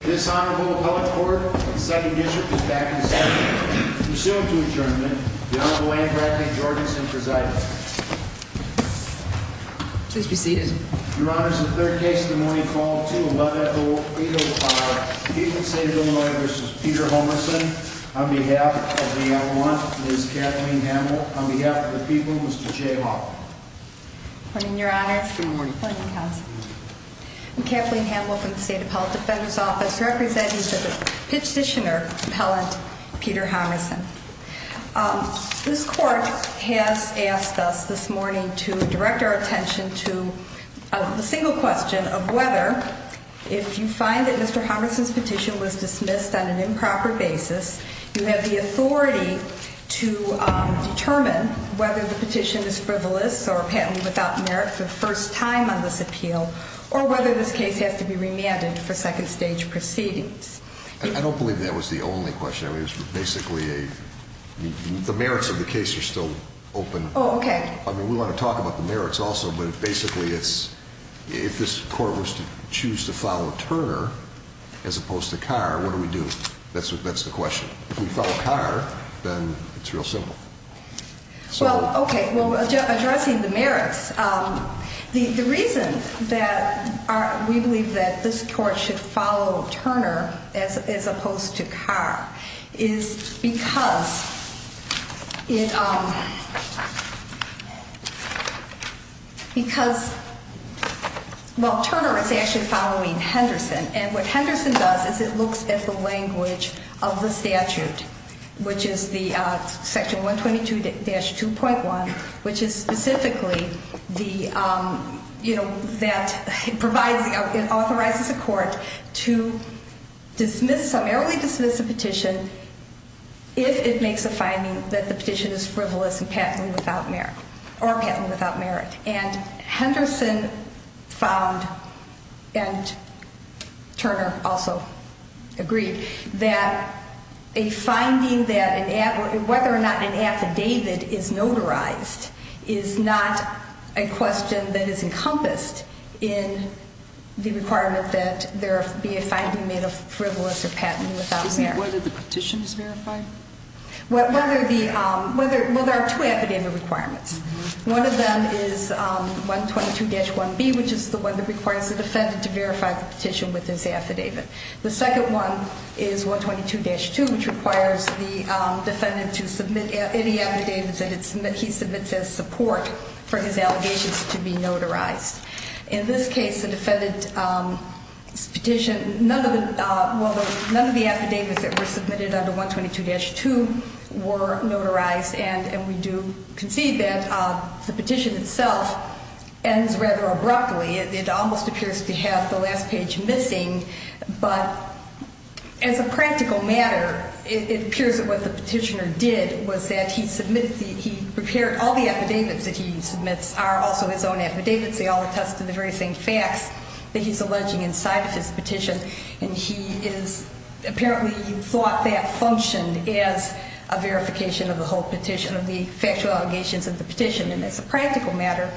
This Honorable Appellate Court of the 2nd District is back in session. Pursuant to adjournment, the Honorable Anne Bradley Jorgensen presides. Please be seated. Your Honor, this is the 3rd case of the morning, Fall 2, 11-08-05. The people of the State of Illinois v. Peter Hommerson. On behalf of the L1, Ms. Kathleen Hamel. On behalf of the people, Mr. Jay Hoffman. Good morning, Your Honor. Good morning. Good morning, Counsel. I'm Kathleen Hamel from the State Appellate Defender's Office. Representing the Petitioner Appellant, Peter Hommerson. This Court has asked us this morning to direct our attention to the single question of whether, if you find that Mr. Hommerson's petition was dismissed on an improper basis, you have the authority to determine whether the petition is frivolous or a patent without merit for the first time on this appeal, or whether this case has to be remanded for second stage proceedings. I don't believe that was the only question. I mean, it was basically a, the merits of the case are still open. Oh, okay. I mean, we want to talk about the merits also, but basically it's, if this Court were to choose to follow Turner as opposed to Carr, what do we do? That's the question. If we follow Carr, then it's real simple. Well, okay. Well, addressing the merits, the reason that we believe that this Court should follow Turner as opposed to Carr is because it, because, well, Turner is actually following Henderson, and what Henderson does is it looks at the language of the statute, which is the section 122-2.1, which is specifically the, you know, that it provides, it authorizes the Court to dismiss, summarily dismiss a petition if it makes a finding that the petition is frivolous and patently without merit, or patently without merit. And Henderson found, and Turner also agreed, that a finding that, whether or not an affidavit is notarized is not a question that is encompassed in the requirement that there be a finding made of frivolous or patently without merit. Isn't it whether the petition is verified? Whether the, well, there are two affidavit requirements. One of them is 122-1B, which is the one that requires the defendant to verify the petition with his affidavit. The second one is 122-2, which requires the defendant to submit any affidavits that he submits as support for his allegations to be notarized. In this case, the defendant's petition, none of the, well, none of the affidavits that were submitted under 122-2 were notarized, and we do concede that the petition itself ends rather abruptly. It almost appears to have the last page missing. But as a practical matter, it appears that what the petitioner did was that he submitted the, he prepared all the affidavits that he submits are also his own affidavits. They all attest to the very same facts that he's alleging inside of his petition. And he is, apparently he thought that functioned as a verification of the whole petition, of the factual allegations of the petition. And as a practical matter,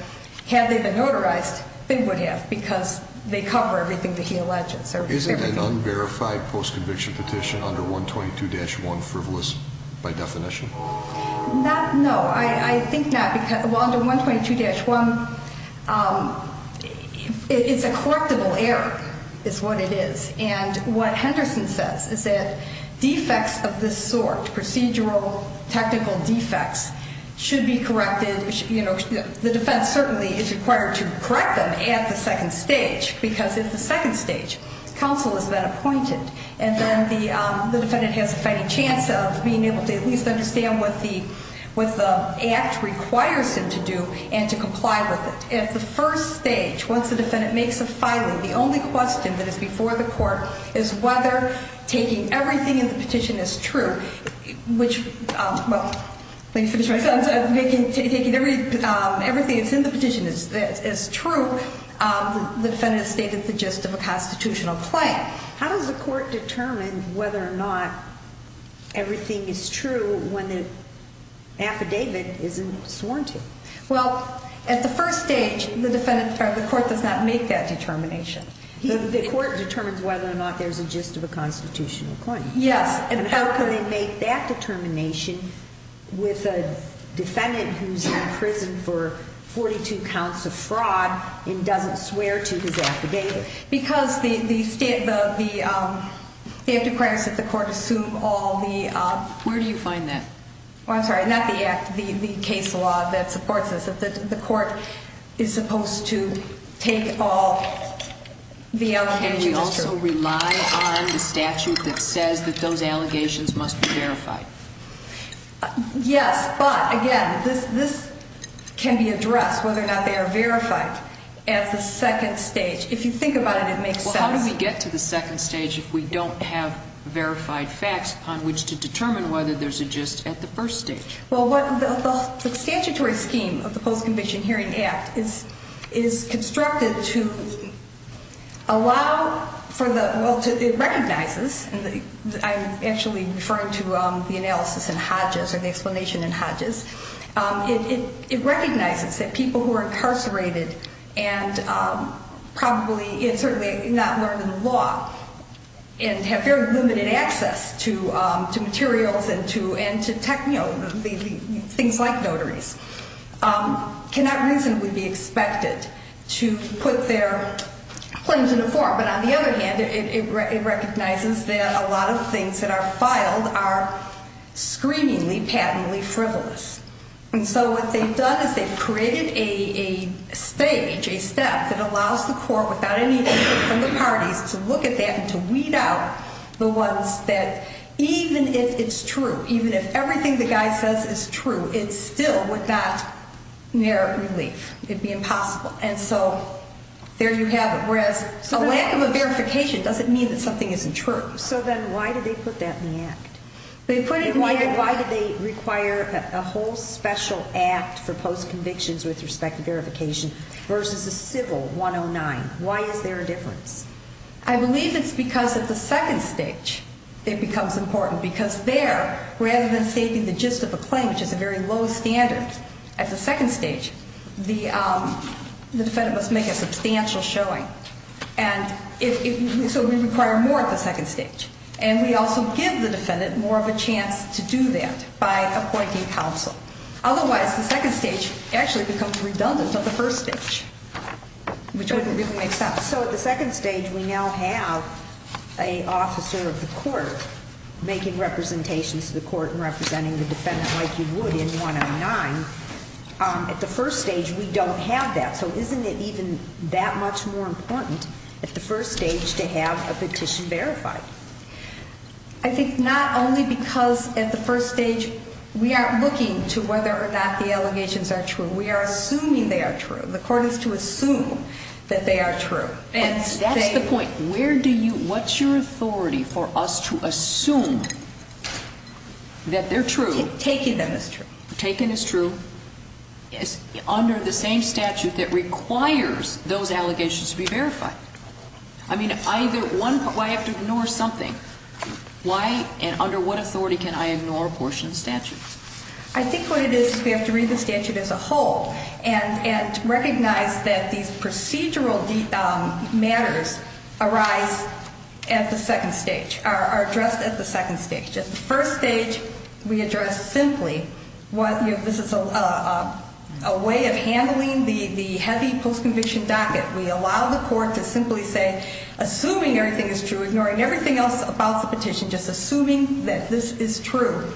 had they been notarized, they would have, because they cover everything that he alleges, everything. Isn't an unverified post-conviction petition under 122-1 frivolous by definition? Not, no, I think not. Under 122-1, it's a correctable error, is what it is. And what Henderson says is that defects of this sort, procedural, technical defects, should be corrected. You know, the defense certainly is required to correct them at the second stage, because at the second stage, counsel has been appointed, and then the defendant has a fighting chance of being able to at least understand what the act requires him to do and to comply with it. At the first stage, once the defendant makes a filing, the only question that is before the court is whether taking everything in the petition is true, which, well, let me finish my sentence, taking everything that's in the petition is true, the defendant has stated the gist of a constitutional claim. Okay. How does the court determine whether or not everything is true when the affidavit isn't sworn to? Well, at the first stage, the court does not make that determination. The court determines whether or not there's a gist of a constitutional claim. Yes, and how can they make that determination with a defendant who's in prison for 42 counts of fraud and doesn't swear to his affidavit? Because the act requires that the court assume all the... Where do you find that? Well, I'm sorry, not the act, the case law that supports this, that the court is supposed to take all the allegations. Can we also rely on the statute that says that those allegations must be verified? Yes, but, again, this can be addressed, whether or not they are verified, at the second stage. If you think about it, it makes sense. Well, how do we get to the second stage if we don't have verified facts upon which to determine whether there's a gist at the first stage? Well, the statutory scheme of the Post-Conviction Hearing Act is constructed to allow for the... Well, it recognizes, and I'm actually referring to the analysis in Hodges or the explanation in Hodges, it recognizes that people who are incarcerated and certainly not learned in law and have very limited access to materials and to things like notaries cannot reasonably be expected to put their claims in a form. But on the other hand, it recognizes that a lot of things that are filed are screamingly, patently frivolous. And so what they've done is they've created a stage, a step, that allows the court, without any input from the parties, to look at that and to weed out the ones that, even if it's true, even if everything the guy says is true, it still would not merit relief. It would be impossible. And so there you have it. Whereas a lack of a verification doesn't mean that something isn't true. So then why did they put that in the Act? Why did they require a whole special Act for post-convictions with respect to verification versus a civil 109? Why is there a difference? I believe it's because at the second stage it becomes important because there, rather than stating the gist of a claim, which is a very low standard, at the second stage the defendant must make a substantial showing. And so we require more at the second stage. And we also give the defendant more of a chance to do that by appointing counsel. Otherwise, the second stage actually becomes redundant of the first stage, which wouldn't really make sense. So at the second stage we now have an officer of the court making representations to the court and representing the defendant like you would in 109. At the first stage we don't have that. So isn't it even that much more important at the first stage to have a petition verified? I think not only because at the first stage we aren't looking to whether or not the allegations are true. We are assuming they are true. The court is to assume that they are true. That's the point. What's your authority for us to assume that they're true? Taking them as true. Taking as true. Under the same statute that requires those allegations to be verified. I mean, I have to ignore something. Why and under what authority can I ignore a portion of the statute? I think what it is is we have to read the statute as a whole and recognize that these procedural matters arise at the second stage, are addressed at the second stage. At the first stage we address simply this is a way of handling the heavy post-conviction docket. We allow the court to simply say, assuming everything is true, ignoring everything else about the petition, just assuming that this is true,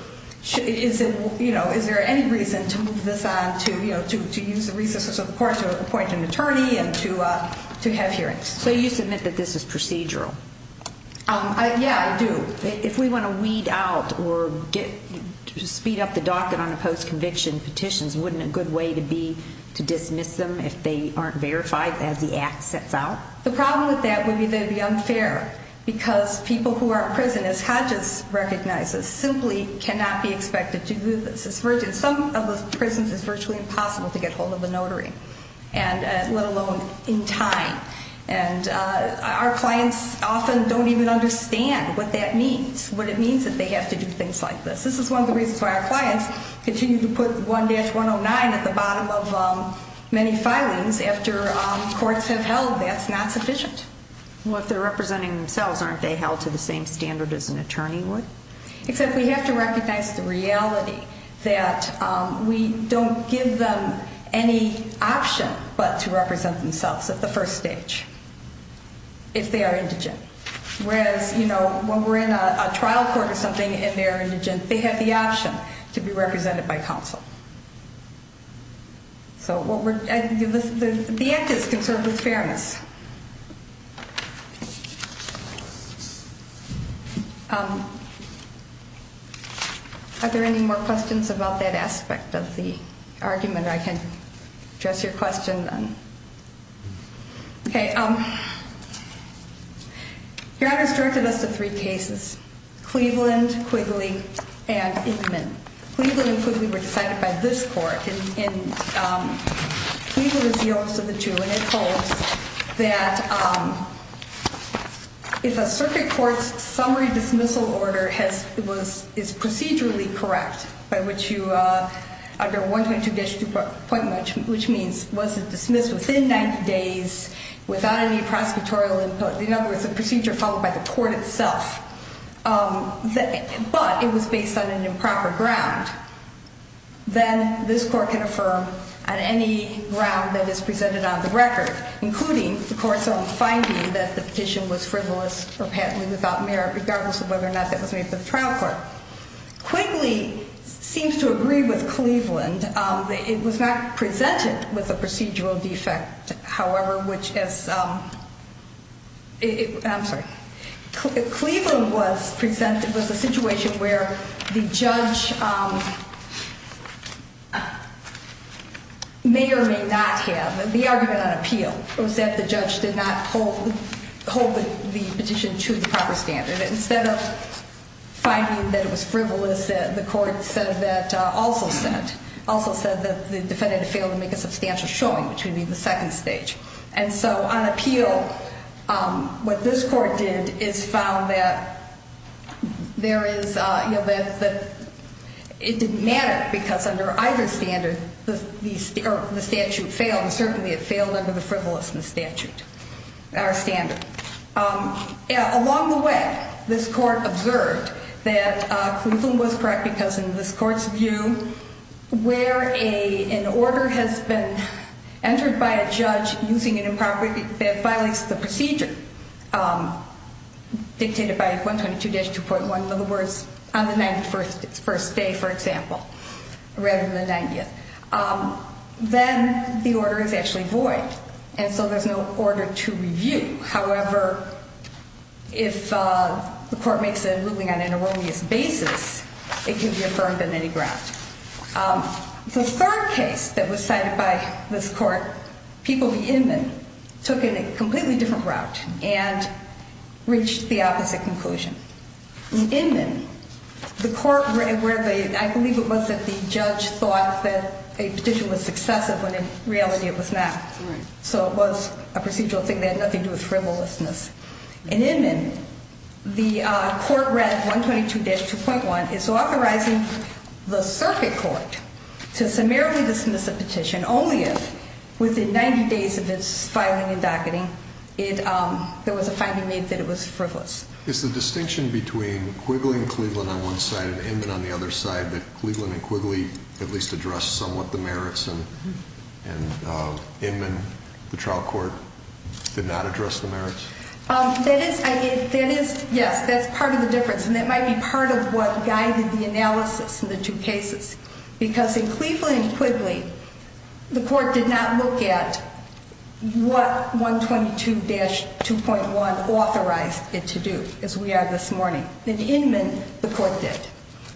is there any reason to move this on to use the resources of the court to appoint an attorney and to have hearings? So you submit that this is procedural? Yeah, I do. If we want to weed out or speed up the docket on the post-conviction petitions, wouldn't a good way to be to dismiss them if they aren't verified as the act sets out? The problem with that would be that it would be unfair because people who are in prison, as Hodges recognizes, simply cannot be expected to do this. In some of the prisons it's virtually impossible to get hold of a notary, let alone in time. And our clients often don't even understand what that means, what it means that they have to do things like this. This is one of the reasons why our clients continue to put 1-109 at the bottom of many filings. If they're representing themselves after courts have held, that's not sufficient. Well, if they're representing themselves, aren't they held to the same standard as an attorney would? Except we have to recognize the reality that we don't give them any option but to represent themselves at the first stage if they are indigent. Whereas when we're in a trial court or something and they're indigent, they have the option to be represented by counsel. So the act is conserved with fairness. Are there any more questions about that aspect of the argument? I can address your question then. Okay. Your Honor's directed us to three cases, Cleveland, Quigley, and Inman. Cleveland and Quigley were decided by this court. And Cleveland is the oldest of the two. And it holds that if a circuit court's summary dismissal order is procedurally correct, by which you, under 122-2.1, which means was it dismissed within 90 days without any prosecutorial input, in other words, a procedure followed by the court itself, but it was based on an improper ground, then this court can affirm on any ground that is presented on the record, including the court's own finding that the petition was frivolous or patently without merit, regardless of whether or not that was made for the trial court. Quigley seems to agree with Cleveland. It was not presented with a procedural defect, however, which is ‑‑ I'm sorry. Cleveland was presented with a situation where the judge may or may not have. The argument on appeal was that the judge did not hold the petition to the proper standard. Instead of finding that it was frivolous, the court also said that the defendant had failed to make a substantial showing, which would be the second stage. And so on appeal, what this court did is found that there is ‑‑ it didn't matter because under either standard, the statute failed. Certainly it failed under the frivolousness statute, our standard. Along the way, this court observed that Cleveland was correct because in this court's view, where an order has been entered by a judge using an improper ‑‑ that violates the procedure, dictated by 122-2.1, in other words, on the 91st day, for example, rather than the 90th, then the order is actually void. And so there's no order to review. However, if the court makes a ruling on an erroneous basis, it can be affirmed on any ground. The third case that was cited by this court, People v. Inman, took a completely different route and reached the opposite conclusion. Inman, the court ‑‑ I believe it was that the judge thought that a petition was successive when in reality it was not. So it was a procedural thing that had nothing to do with frivolousness. In Inman, the court read 122-2.1 as authorizing the circuit court to summarily dismiss a petition only if within 90 days of its filing and docketing, there was a finding made that it was frivolous. Is the distinction between Quigley v. Cleveland on one side and Inman on the other side that Cleveland v. Quigley at least addressed somewhat the merits and Inman, the trial court, did not address the merits? That is, yes, that's part of the difference. And that might be part of what guided the analysis in the two cases. Because in Cleveland v. Quigley, the court did not look at what 122-2.1 authorized it to do, as we are this morning. In Inman, the court did.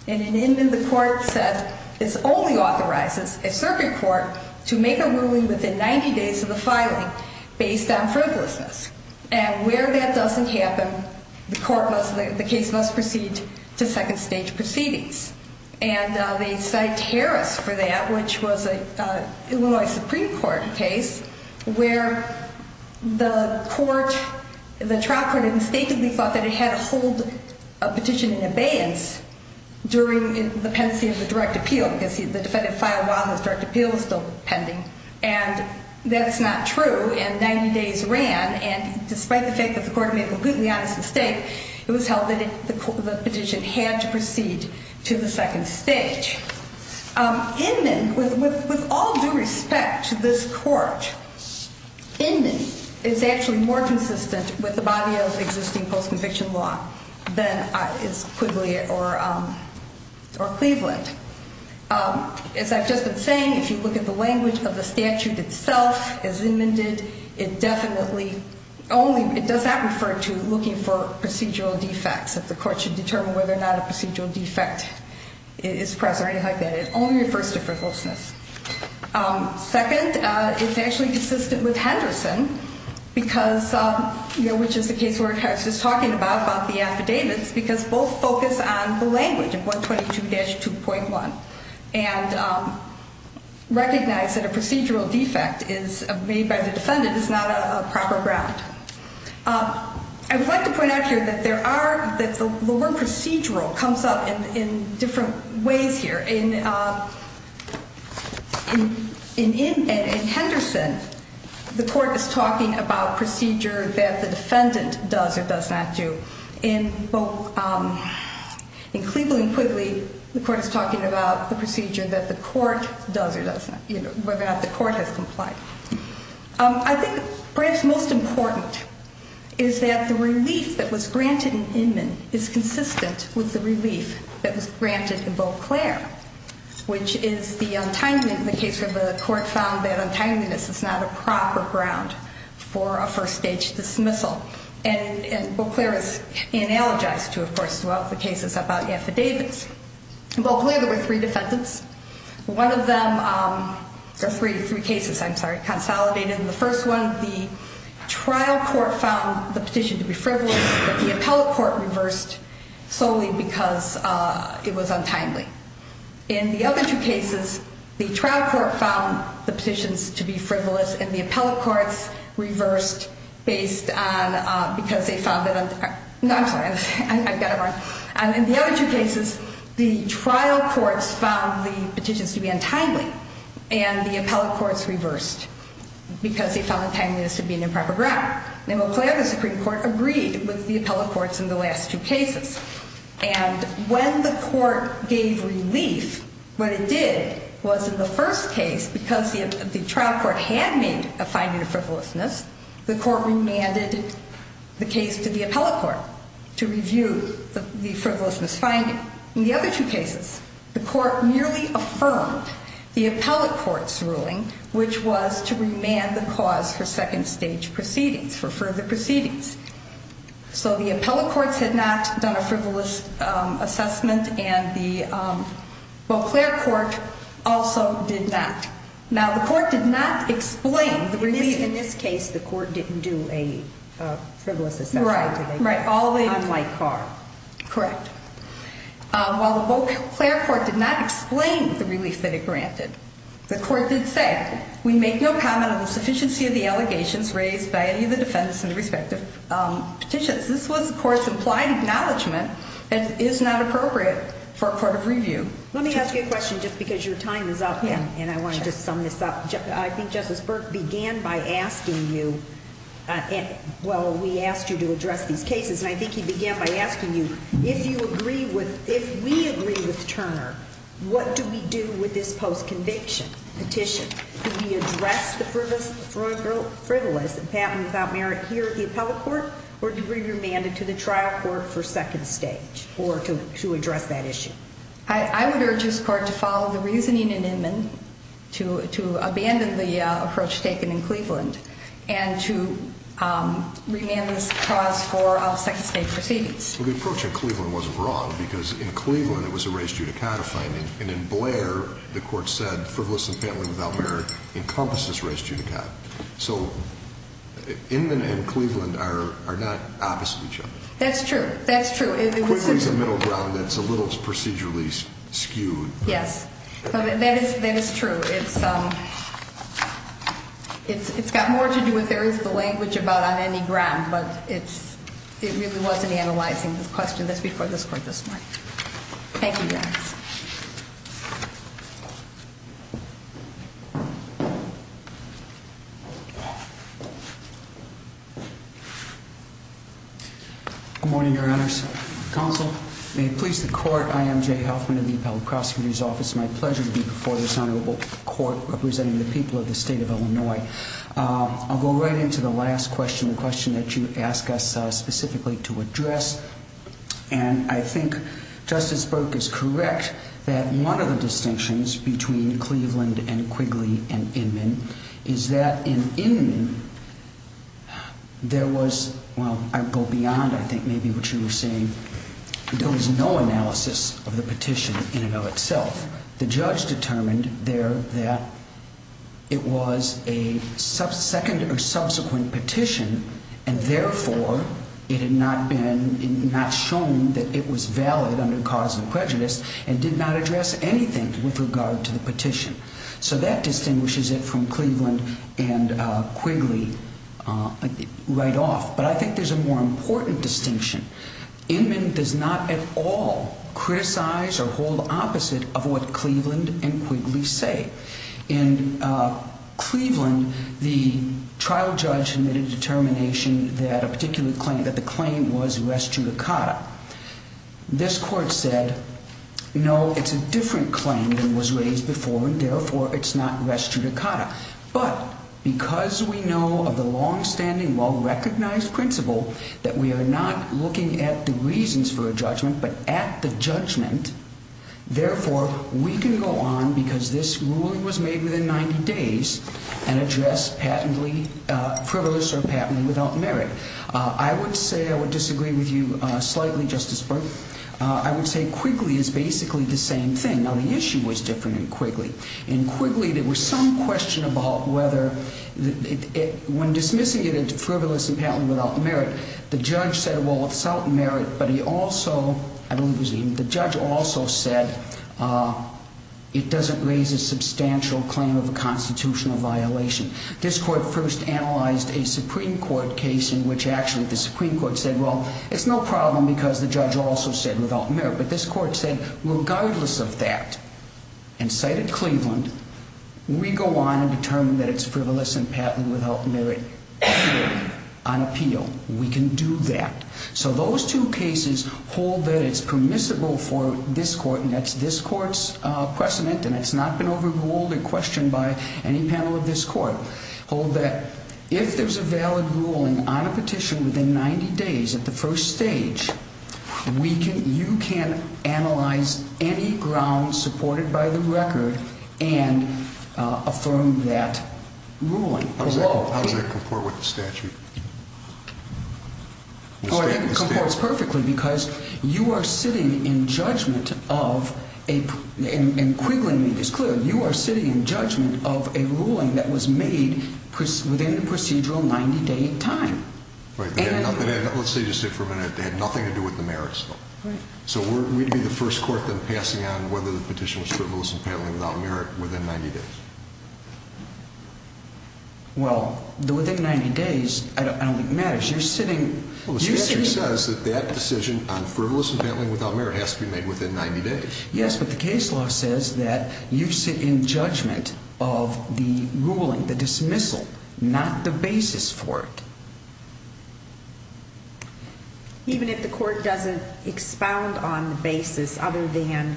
And in Inman, the court said this only authorizes a circuit court to make a ruling within 90 days of the filing based on frivolousness. And where that doesn't happen, the case must proceed to second stage proceedings. And they cite Harris for that, which was an Illinois Supreme Court case where the court, the trial court, had mistakenly thought that it had to hold a petition in abeyance during the pendency of the direct appeal. Because the defendant filed while the direct appeal was still pending. And that's not true. And 90 days ran. And despite the fact that the court made a completely honest mistake, it was held that the petition had to proceed to the second stage. Inman, with all due respect to this court, Inman is actually more consistent with the body of existing post-conviction law than is Quigley or Cleveland. As I've just been saying, if you look at the language of the statute itself, as Inman did, it definitely only, it does not refer to looking for procedural defects, that the court should determine whether or not a procedural defect is present or anything like that. It only refers to frivolousness. Second, it's actually consistent with Henderson, because, you know, which is the case where Harris is talking about, about the affidavits, because both focus on the language of 122-2.1 and recognize that a procedural defect made by the defendant is not a proper ground. I would like to point out here that the word procedural comes up in different ways here. In Henderson, the court is talking about procedure that the defendant does or does not do. In Cleveland, Quigley, the court is talking about the procedure that the court does or does not, you know, whether or not the court has complied. I think perhaps most important is that the relief that was granted in Inman is consistent with the relief that was granted in Beauclair, which is the untimeliness, the case where the court found that untimeliness is not a proper ground for a first-stage dismissal. And Beauclair is analogized to, of course, a lot of the cases about affidavits. In Beauclair, there were three defendants. One of them, or three cases, I'm sorry, consolidated. In the first one, the trial court found the petition to be frivolous, but the appellate court reversed solely because it was untimely. In the other two cases, the trial court found the petitions to be frivolous, and the appellate courts reversed based on because they found that untimely. No, I'm sorry, I've got it wrong. In the other two cases, the trial courts found the petitions to be untimely, and the appellate courts reversed because they found untimeliness to be an improper ground. In Beauclair, the Supreme Court agreed with the appellate courts in the last two cases. And when the court gave relief, what it did was in the first case, because the trial court had made a finding of frivolousness, the court remanded the case to the appellate court to review the frivolousness finding. In the other two cases, the court merely affirmed the appellate court's ruling, which was to remand the cause for second-stage proceedings, for further proceedings. So the appellate courts had not done a frivolous assessment, and the Beauclair court also did not. Now, the court did not explain the relief. In this case, the court didn't do a frivolous assessment. Right, right. Unlike Carr. Correct. While the Beauclair court did not explain the relief that it granted, the court did say, Again, we make no comment on the sufficiency of the allegations raised by any of the defendants in the respective petitions. This was the court's implied acknowledgment. It is not appropriate for a court of review. Let me ask you a question, just because your time is up, and I want to just sum this up. I think Justice Burke began by asking you, well, we asked you to address these cases, and I think he began by asking you, if we agree with Turner, what do we do with this post-conviction petition? Do we address the frivolous and patent without merit here at the appellate court, or do we remand it to the trial court for second stage, or to address that issue? I would urge this court to follow the reasoning in Inman, to abandon the approach taken in Cleveland, and to remand this clause for second-stage proceedings. Well, the approach in Cleveland wasn't wrong, because in Cleveland it was a res judicata finding, and in Blair, the court said frivolous and patent without merit encompasses res judicata. So Inman and Cleveland are not opposite each other. That's true. That's true. Quigley is a middle ground that's a little procedurally skewed. Yes. That is true. It's got more to do with there is the language about on any ground, but it really wasn't analyzing the question that's before this court this morning. Thank you, guys. Good morning, Your Honors. Counsel, may it please the court, I am Jay Huffman of the Appellate Prosecutor's Office. It's my pleasure to be before this honorable court representing the people of the state of Illinois. I'll go right into the last question, the question that you asked us specifically to address, and I think Justice Burke is correct that one of the distinctions between Cleveland and Quigley and Inman is that in Inman there was, well, I'd go beyond I think maybe what you were saying, there was no analysis of the petition in and of itself. The judge determined there that it was a second or subsequent petition, and therefore it had not shown that it was valid under cause of prejudice and did not address anything with regard to the petition. So that distinguishes it from Cleveland and Quigley right off. But I think there's a more important distinction. Inman does not at all criticize or hold opposite of what Cleveland and Quigley say. In Cleveland, the trial judge made a determination that a particular claim, that the claim was res judicata. This court said, no, it's a different claim than was raised before, and therefore it's not res judicata. But because we know of the longstanding, well-recognized principle that we are not looking at the reasons for a judgment but at the judgment, therefore we can go on because this ruling was made within 90 days and address patently frivolous or patently without merit. I would say I would disagree with you slightly, Justice Burke. I would say Quigley is basically the same thing. Now, the issue was different in Quigley. In Quigley, there was some question about whether when dismissing it as frivolous and patently without merit, the judge said, well, it's without merit, but he also, I believe it was he, the judge also said it doesn't raise a substantial claim of a constitutional violation. This court first analyzed a Supreme Court case in which actually the Supreme Court said, well, it's no problem because the judge also said without merit. But this court said, regardless of that, and cited Cleveland, we go on and determine that it's frivolous and patently without merit on appeal. We can do that. So those two cases hold that it's permissible for this court, and that's this court's precedent, and it's not been overruled or questioned by any panel of this court, hold that if there's a valid ruling on a petition within 90 days at the first stage, you can analyze any ground supported by the record and affirm that ruling. Correct. How does that comport with the statute? It comports perfectly because you are sitting in judgment of a, in Quigley, it's clear, you are sitting in judgment of a ruling that was made within the procedural 90-day time. Let's say you sit for a minute, they had nothing to do with the merits. So we'd be the first court then passing on whether the petition was frivolous and patently without merit within 90 days. Well, within 90 days, I don't think it matters. You're sitting... Well, the statute says that that decision on frivolous and patently without merit has to be made within 90 days. Yes, but the case law says that you sit in judgment of the ruling, the dismissal, not the basis for it. Even if the court doesn't expound on the basis other than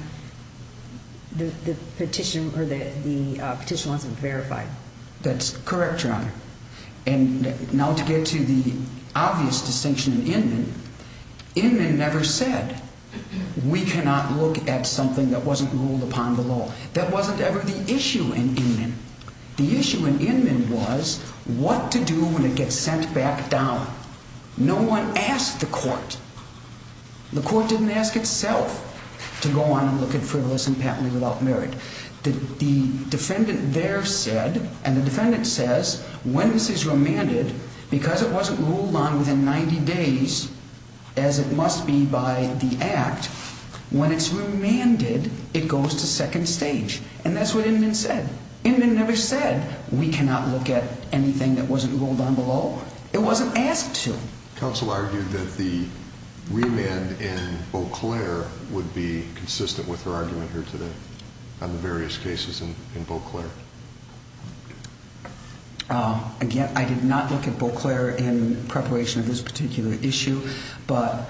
the petition or the petition wasn't verified. That's correct, Your Honor. And now to get to the obvious distinction in Inman, Inman never said we cannot look at something that wasn't ruled upon the law. That wasn't ever the issue in Inman. The issue in Inman was what to do when it gets sent back down. No one asked the court. The court didn't ask itself to go on and look at frivolous and patently without merit. The defendant there said, and the defendant says, when this is remanded, because it wasn't ruled on within 90 days, as it must be by the Act, when it's remanded, it goes to second stage. And that's what Inman said. Inman never said we cannot look at anything that wasn't ruled on below. It wasn't asked to. Counsel argued that the remand in Beauclair would be consistent with her argument here today on the various cases in Beauclair. Again, I did not look at Beauclair in preparation of this particular issue, but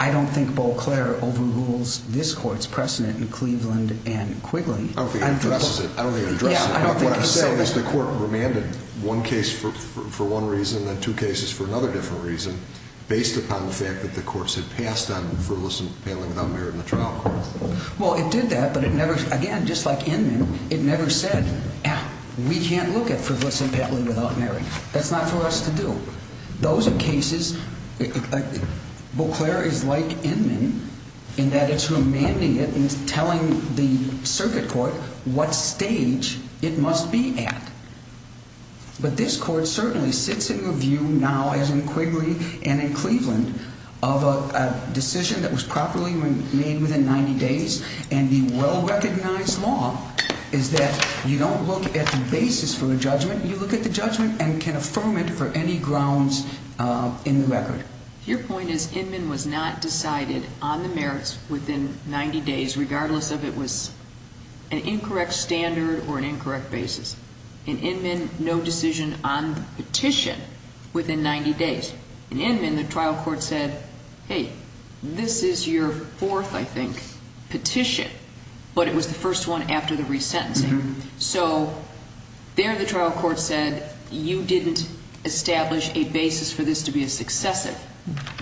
I don't think Beauclair overrules this court's precedent in Cleveland and Quigley. I don't think it addresses it. I don't think it addresses it. What I'm saying is the court remanded one case for one reason and then two cases for another different reason based upon the fact that the courts had passed on frivolous and patently without merit in the trial court. Well, it did that, but it never, again, just like Inman, it never said we can't look at frivolous and patently without merit. That's not for us to do. Those are cases, Beauclair is like Inman in that it's remanding it and telling the circuit court what stage it must be at. But this court certainly sits in review now as in Quigley and in Cleveland of a decision that was properly made within 90 days and the well-recognized law is that you don't look at the basis for a judgment, you look at the judgment and can affirm it for any grounds in the record. Your point is Inman was not decided on the merits within 90 days regardless if it was an incorrect standard or an incorrect basis. In Inman, no decision on the petition within 90 days. In Inman, the trial court said, hey, this is your fourth, I think, petition, but it was the first one after the resentencing. So there the trial court said you didn't establish a basis for this to be a successive.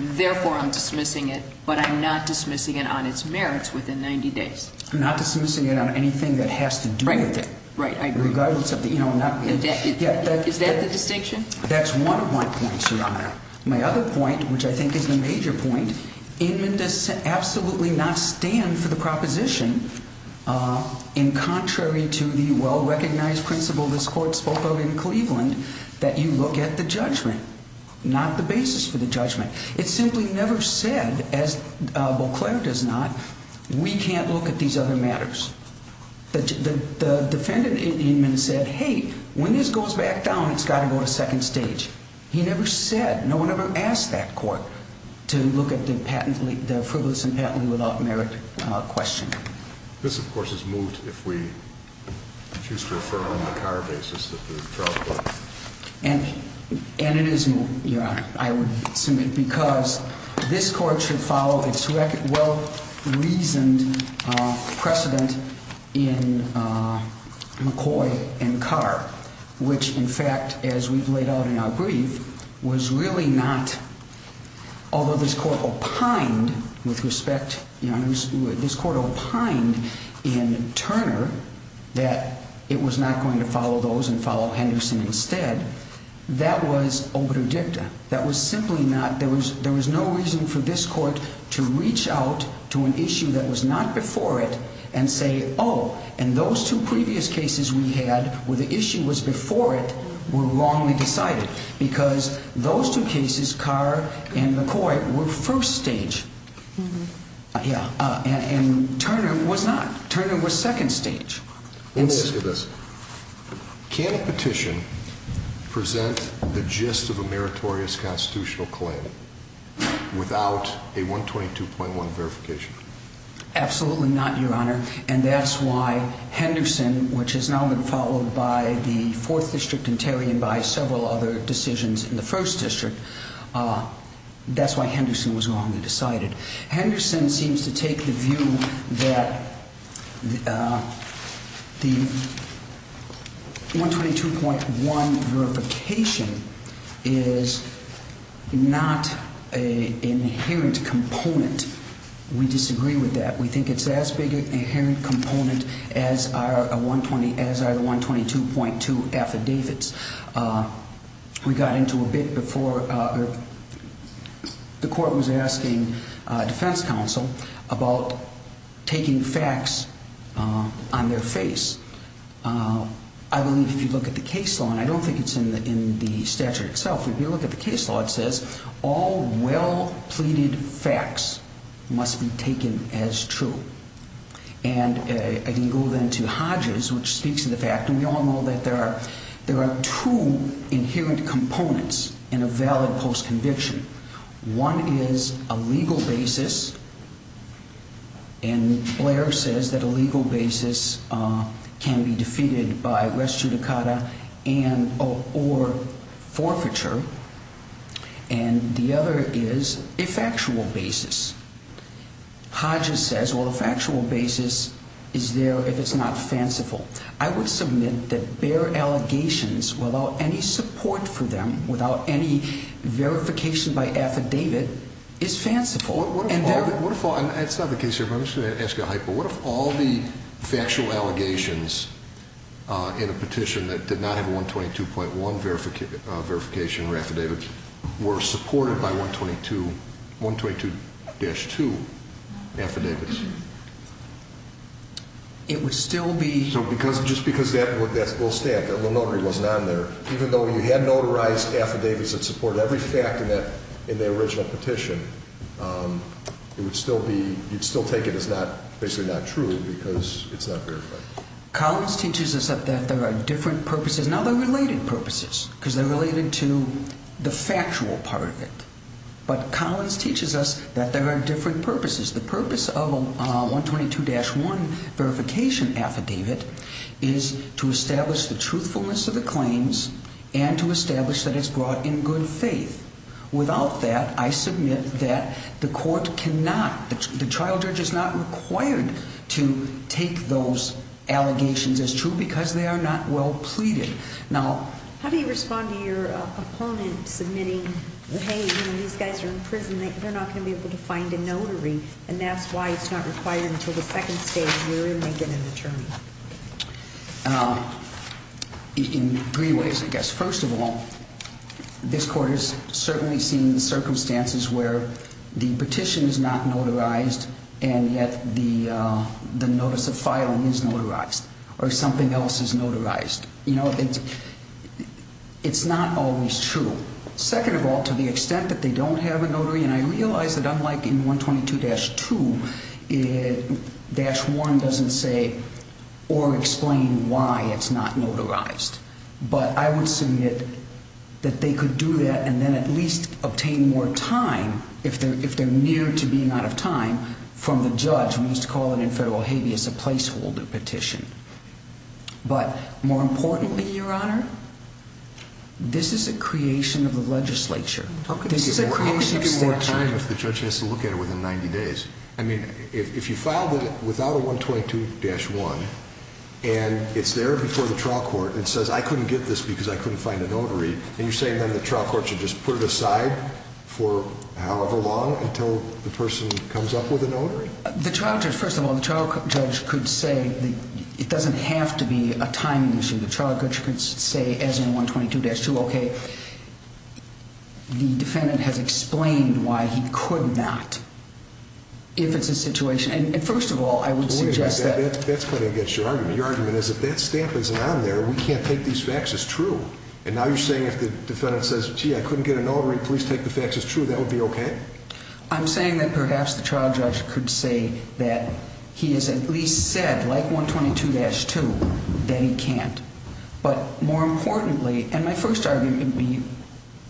Therefore, I'm dismissing it, but I'm not dismissing it on its merits within 90 days. I'm not dismissing it on anything that has to do with it. Right, I agree. Regardless of the, you know, not being. Is that the distinction? That's one of my points, Your Honor. My other point, which I think is the major point, Inman does absolutely not stand for the proposition in contrary to the well-recognized principle this court spoke of in Cleveland that you look at the judgment, not the basis for the judgment. It simply never said, as Beauclair does not, we can't look at these other matters. The defendant in Inman said, hey, when this goes back down, it's got to go to second stage. He never said, no one ever asked that court to look at the frivolous and patently without merit question. This, of course, is moot if we choose to refer on the Carr basis of the trial court. And it is moot, Your Honor, I would assume, because this court should follow its well-reasoned precedent in McCoy and Carr, which, in fact, as we've laid out in our brief, was really not, although this court opined, with respect, Your Honor, this court opined in Turner that it was not going to follow those and follow Henderson instead. That was obredicta. That was simply not, there was no reason for this court to reach out to an issue that was not before it and say, oh, and those two previous cases we had where the issue was before it were wrongly decided because those two cases, Carr and McCoy, were first stage. And Turner was not. Turner was second stage. Let me ask you this. Can a petition present the gist of a meritorious constitutional claim without a 122.1 verification? Absolutely not, Your Honor. And that's why Henderson, which has now been followed by the Fourth District in Terry and by several other decisions in the First District, that's why Henderson was wrongly decided. Henderson seems to take the view that the 122.1 verification is not an inherent component. We disagree with that. We think it's as big an inherent component as are the 122.2 affidavits. We got into a bit before the court was asking defense counsel about taking facts on their face. I believe if you look at the case law, and I don't think it's in the statute itself, but if you look at the case law, it says all well-pleaded facts must be taken as true. And I can go then to Hodges, which speaks to the fact, and we all know that there are two inherent components in a valid postconviction. One is a legal basis, and Blair says that a legal basis can be defeated by res judicata or forfeiture. And the other is a factual basis. Hodges says, well, a factual basis is there if it's not fanciful. I would submit that Blair allegations without any support for them, without any verification by affidavit, is fanciful. What if all the factual allegations in a petition that did not have a 122.1 verification or affidavit were supported by 122-2 affidavits? It would still be... So just because that little stack, that little notary wasn't on there, even though you had notarized affidavits that supported every fact in the original petition, it would still be, you'd still take it as basically not true because it's not verified. Collins teaches us that there are different purposes. Now, they're related purposes because they're related to the factual part of it. But Collins teaches us that there are different purposes. The purpose of a 122-1 verification affidavit is to establish the truthfulness of the claims and to establish that it's brought in good faith. Without that, I submit that the court cannot, the trial judge is not required to take those allegations as true because they are not well pleaded. How do you respond to your opponent submitting, hey, these guys are in prison, they're not going to be able to find a notary, and that's why it's not required until the second stage and you're making an attorney? In three ways, I guess. First of all, this court has certainly seen circumstances where the petition is not notarized and yet the notice of filing is notarized or something else is notarized. You know, it's not always true. Second of all, to the extent that they don't have a notary, and I realize that unlike in 122-2, dash 1 doesn't say or explain why it's not notarized. But I would submit that they could do that and then at least obtain more time, if they're near to being out of time, from the judge, we used to call it in federal habeas, a placeholder petition. But more importantly, Your Honor, this is a creation of the legislature. How could you get more time if the judge has to look at it within 90 days? I mean, if you filed it without a 122-1 and it's there before the trial court and says, I couldn't get this because I couldn't find a notary, and you're saying then the trial court should just put it aside for however long until the person comes up with a notary? The trial judge, first of all, the trial judge could say it doesn't have to be a time issue. The trial judge could say, as in 122-2, okay, the defendant has explained why he could not, if it's a situation. And first of all, I would suggest that. That's kind of against your argument. Your argument is if that stamp isn't on there, we can't take these facts as true. And now you're saying if the defendant says, gee, I couldn't get a notary, please take the facts as true, that would be okay? I'm saying that perhaps the trial judge could say that he has at least said, like 122-2, that he can't. But more importantly, and my first argument would be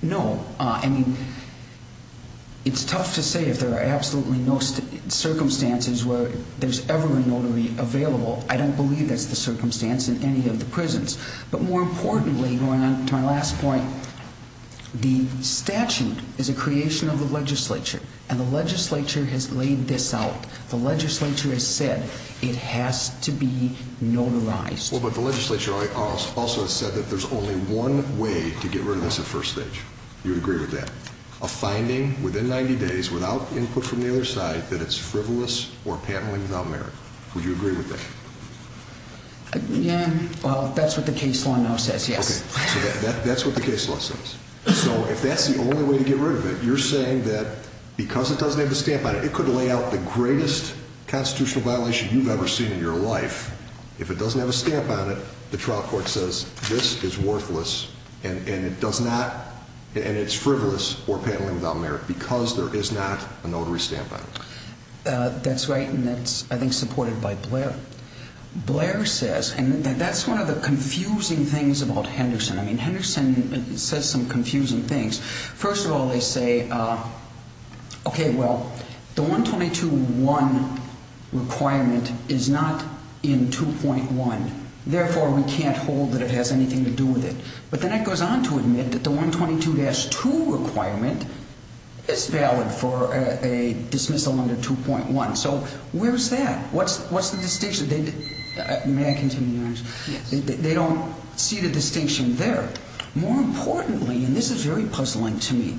no. I mean, it's tough to say if there are absolutely no circumstances where there's ever a notary available. I don't believe that's the circumstance in any of the prisons. But more importantly, going on to our last point, the statute is a creation of the legislature, and the legislature has laid this out. The legislature has said it has to be notarized. Well, but the legislature also has said that there's only one way to get rid of this at first stage. Do you agree with that? A finding within 90 days without input from the other side that it's frivolous or patently without merit. Would you agree with that? Yeah. Well, that's what the case law now says, yes. Okay, so that's what the case law says. So if that's the only way to get rid of it, you're saying that because it doesn't have a stamp on it, it could lay out the greatest constitutional violation you've ever seen in your life. If it doesn't have a stamp on it, the trial court says this is worthless and it's frivolous or patently without merit because there is not a notary stamp on it. That's right, and that's, I think, supported by Blair. Blair says, and that's one of the confusing things about Henderson. I mean, Henderson says some confusing things. First of all, they say, okay, well, the 122.1 requirement is not in 2.1. Therefore, we can't hold that it has anything to do with it. But then it goes on to admit that the 122-2 requirement is valid for a dismissal under 2.1. So where's that? What's the distinction? May I continue, Your Honor? Yes. They don't see the distinction there. More importantly, and this is very puzzling to me,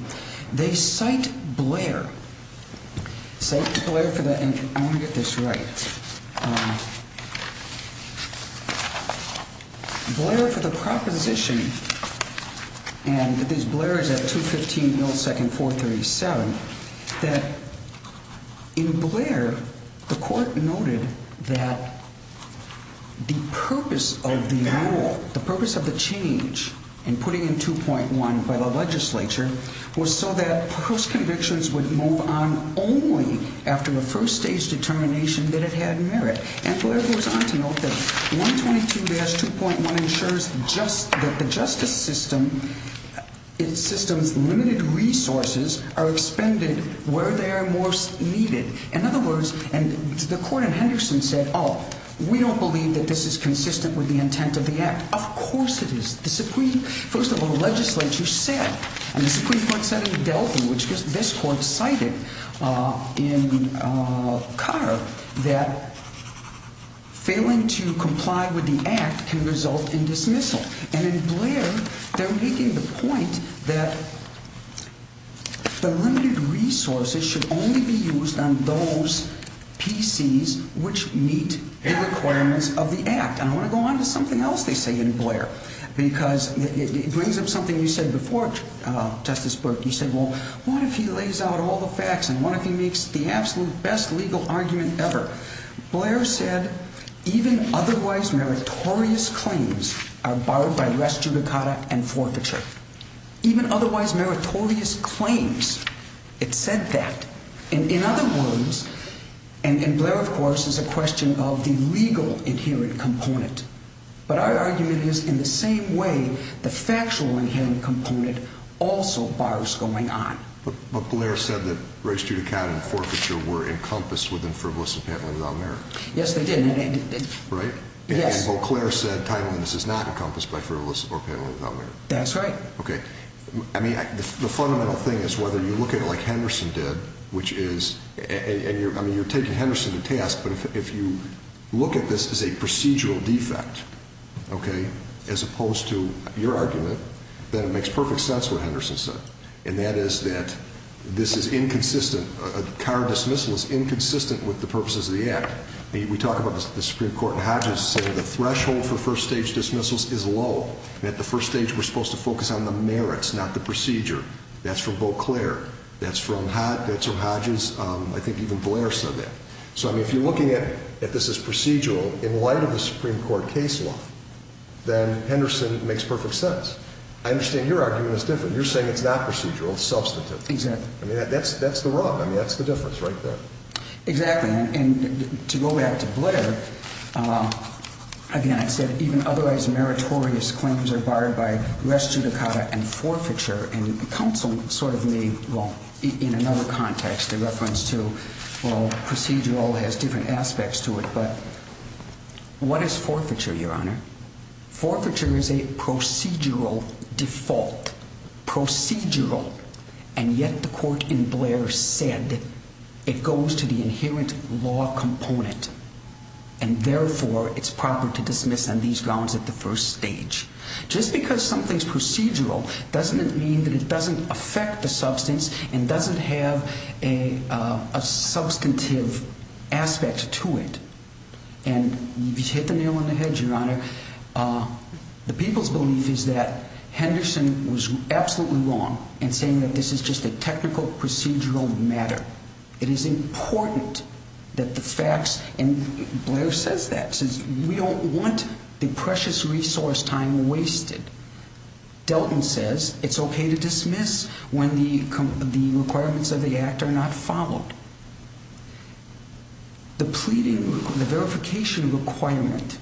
they cite Blair. Cite Blair for the, and I want to get this right. Blair for the proposition, and this Blair is at 215 Millisecond 437, that in Blair, the court noted that the purpose of the renewal, the purpose of the change, and putting in 2.1 by the legislature, was so that post-convictions would move on only after a first-stage determination that it had merit. And Blair goes on to note that 122-2.1 ensures that the justice system, its system's limited resources are expended where they are most needed. In other words, and the court in Henderson said, oh, we don't believe that this is consistent with the intent of the act. Of course it is. The Supreme, first of all, the legislature said, and the Supreme Court said in Delphi, which this court cited in Carr, that failing to comply with the act can result in dismissal. And in Blair, they're making the point that the limited resources should only be used on those PCs which meet the requirements of the act. And I want to go on to something else they say in Blair, because it brings up something you said before, Justice Burke. You said, well, what if he lays out all the facts, and what if he makes the absolute best legal argument ever? Blair said, even otherwise meritorious claims are borrowed by res judicata and forfeiture. Even otherwise meritorious claims, it said that. In other words, and Blair, of course, is a question of the legal inherent component. But our argument is, in the same way, the factual inherent component also borrows going on. But Blair said that res judicata and forfeiture were encompassed within frivolous and pantomime without merit. Yes, they did. Right? Yes. Well, Clare said timeliness is not encompassed by frivolous or pantomime without merit. That's right. Okay. I mean, the fundamental thing is whether you look at it like Henderson did, which is, and you're taking Henderson to task, but if you look at this as a procedural defect, okay, as opposed to your argument, then it makes perfect sense what Henderson said. And that is that this is inconsistent, a car dismissal is inconsistent with the purposes of the act. We talk about the Supreme Court in Hodges saying the threshold for first-stage dismissals is low. And at the first stage, we're supposed to focus on the merits, not the procedure. That's from both Clare. That's from Hodges. I think even Blair said that. So, I mean, if you're looking at this as procedural in light of the Supreme Court case law, then Henderson makes perfect sense. I understand your argument is different. You're saying it's not procedural. It's substantive. Exactly. I mean, that's the rub. I mean, that's the difference right there. Exactly. And to go back to Blair, again, I said even otherwise meritorious claims are barred by res judicata and forfeiture. And counsel sort of made, well, in another context, a reference to, well, procedural has different aspects to it. But what is forfeiture, Your Honor? Forfeiture is a procedural default. Procedural. And yet the court in Blair said it goes to the inherent law component. And, therefore, it's proper to dismiss on these grounds at the first stage. Just because something's procedural doesn't mean that it doesn't affect the substance and doesn't have a substantive aspect to it. And you've hit the nail on the head, Your Honor. The people's belief is that Henderson was absolutely wrong in saying that this is just a technical procedural matter. It is important that the facts, and Blair says that, says we don't want the precious resource time wasted. Delton says it's okay to dismiss when the requirements of the act are not followed. The pleading, the verification requirement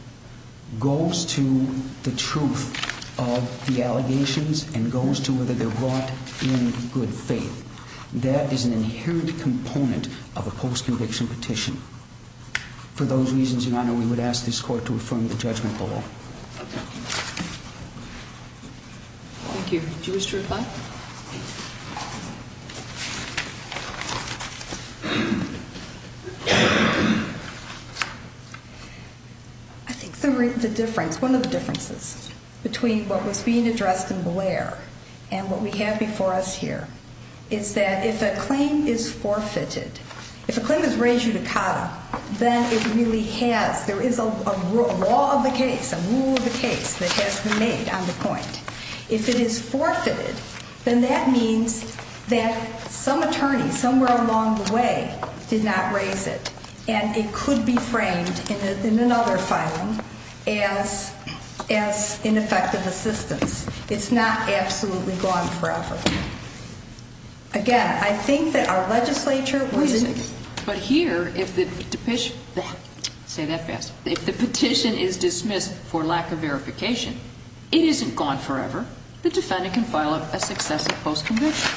goes to the truth of the allegations and goes to whether they're brought in good faith. That is an inherent component of a post-conviction petition. For those reasons, Your Honor, we would ask this court to affirm the judgment below. Okay. Thank you. Do you wish to reply? I think the difference, one of the differences between what was being addressed in Blair and what we have before us here is that if a claim is forfeited, if a claim is rejudicata, then it really has, there is a law of the case, a rule of the case that has been made on the point. If it is forfeited, then that means that some attorney somewhere along the way did not raise it, and it could be framed in another filing as ineffective assistance. It's not absolutely gone forever. Again, I think that our legislature wasn't. But here, if the petition is dismissed for lack of verification, it isn't gone forever. The defendant can file a successive post-conviction.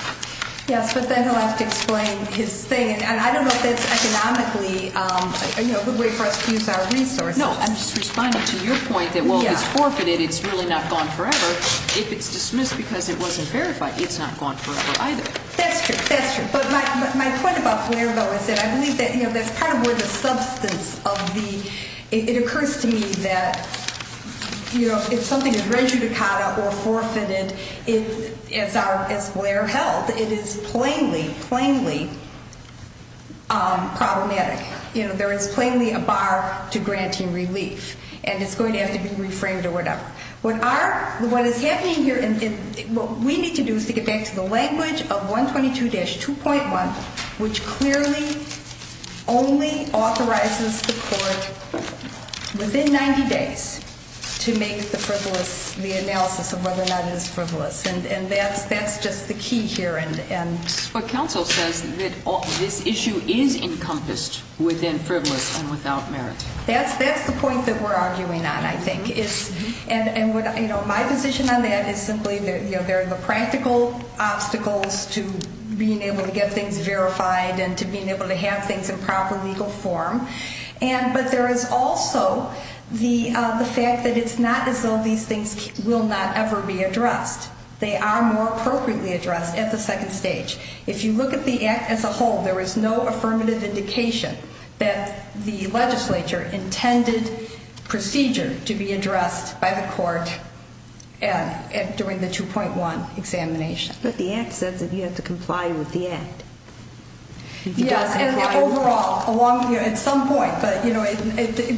Yes, but then he'll have to explain his thing, and I don't know if it's economically a good way for us to use our resources. No, I'm just responding to your point that, well, if it's forfeited, it's really not gone forever. If it's dismissed because it wasn't verified, it's not gone forever either. That's true, that's true. But my point about Blair, though, is that I believe that's part of where the substance of the, it occurs to me that if something is rejudicata or forfeited, as Blair held, it is plainly, plainly problematic. There is plainly a bar to granting relief, and it's going to have to be reframed or whatever. What is happening here, what we need to do is to get back to the language of 122-2.1, which clearly only authorizes the court within 90 days to make the analysis of whether or not it is frivolous. And that's just the key here. But counsel says that this issue is encompassed within frivolous and without merit. That's the point that we're arguing on, I think. And my position on that is simply there are the practical obstacles to being able to get things verified and to being able to have things in proper legal form. But there is also the fact that it's not as though these things will not ever be addressed. They are more appropriately addressed at the second stage. If you look at the Act as a whole, there is no affirmative indication that the legislature intended procedure to be addressed by the court during the 2.1 examination. But the Act says that you have to comply with the Act. Yes, and overall, at some point, but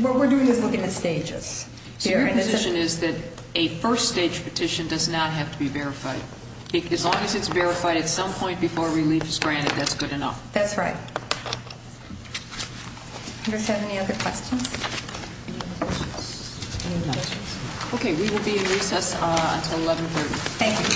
what we're doing is looking at stages. So your position is that a first-stage petition does not have to be verified? As long as it's verified at some point before relief is granted, that's good enough. That's right. Do we have any other questions? Okay, we will be in recess until 11.30. Thank you. Thank you very much.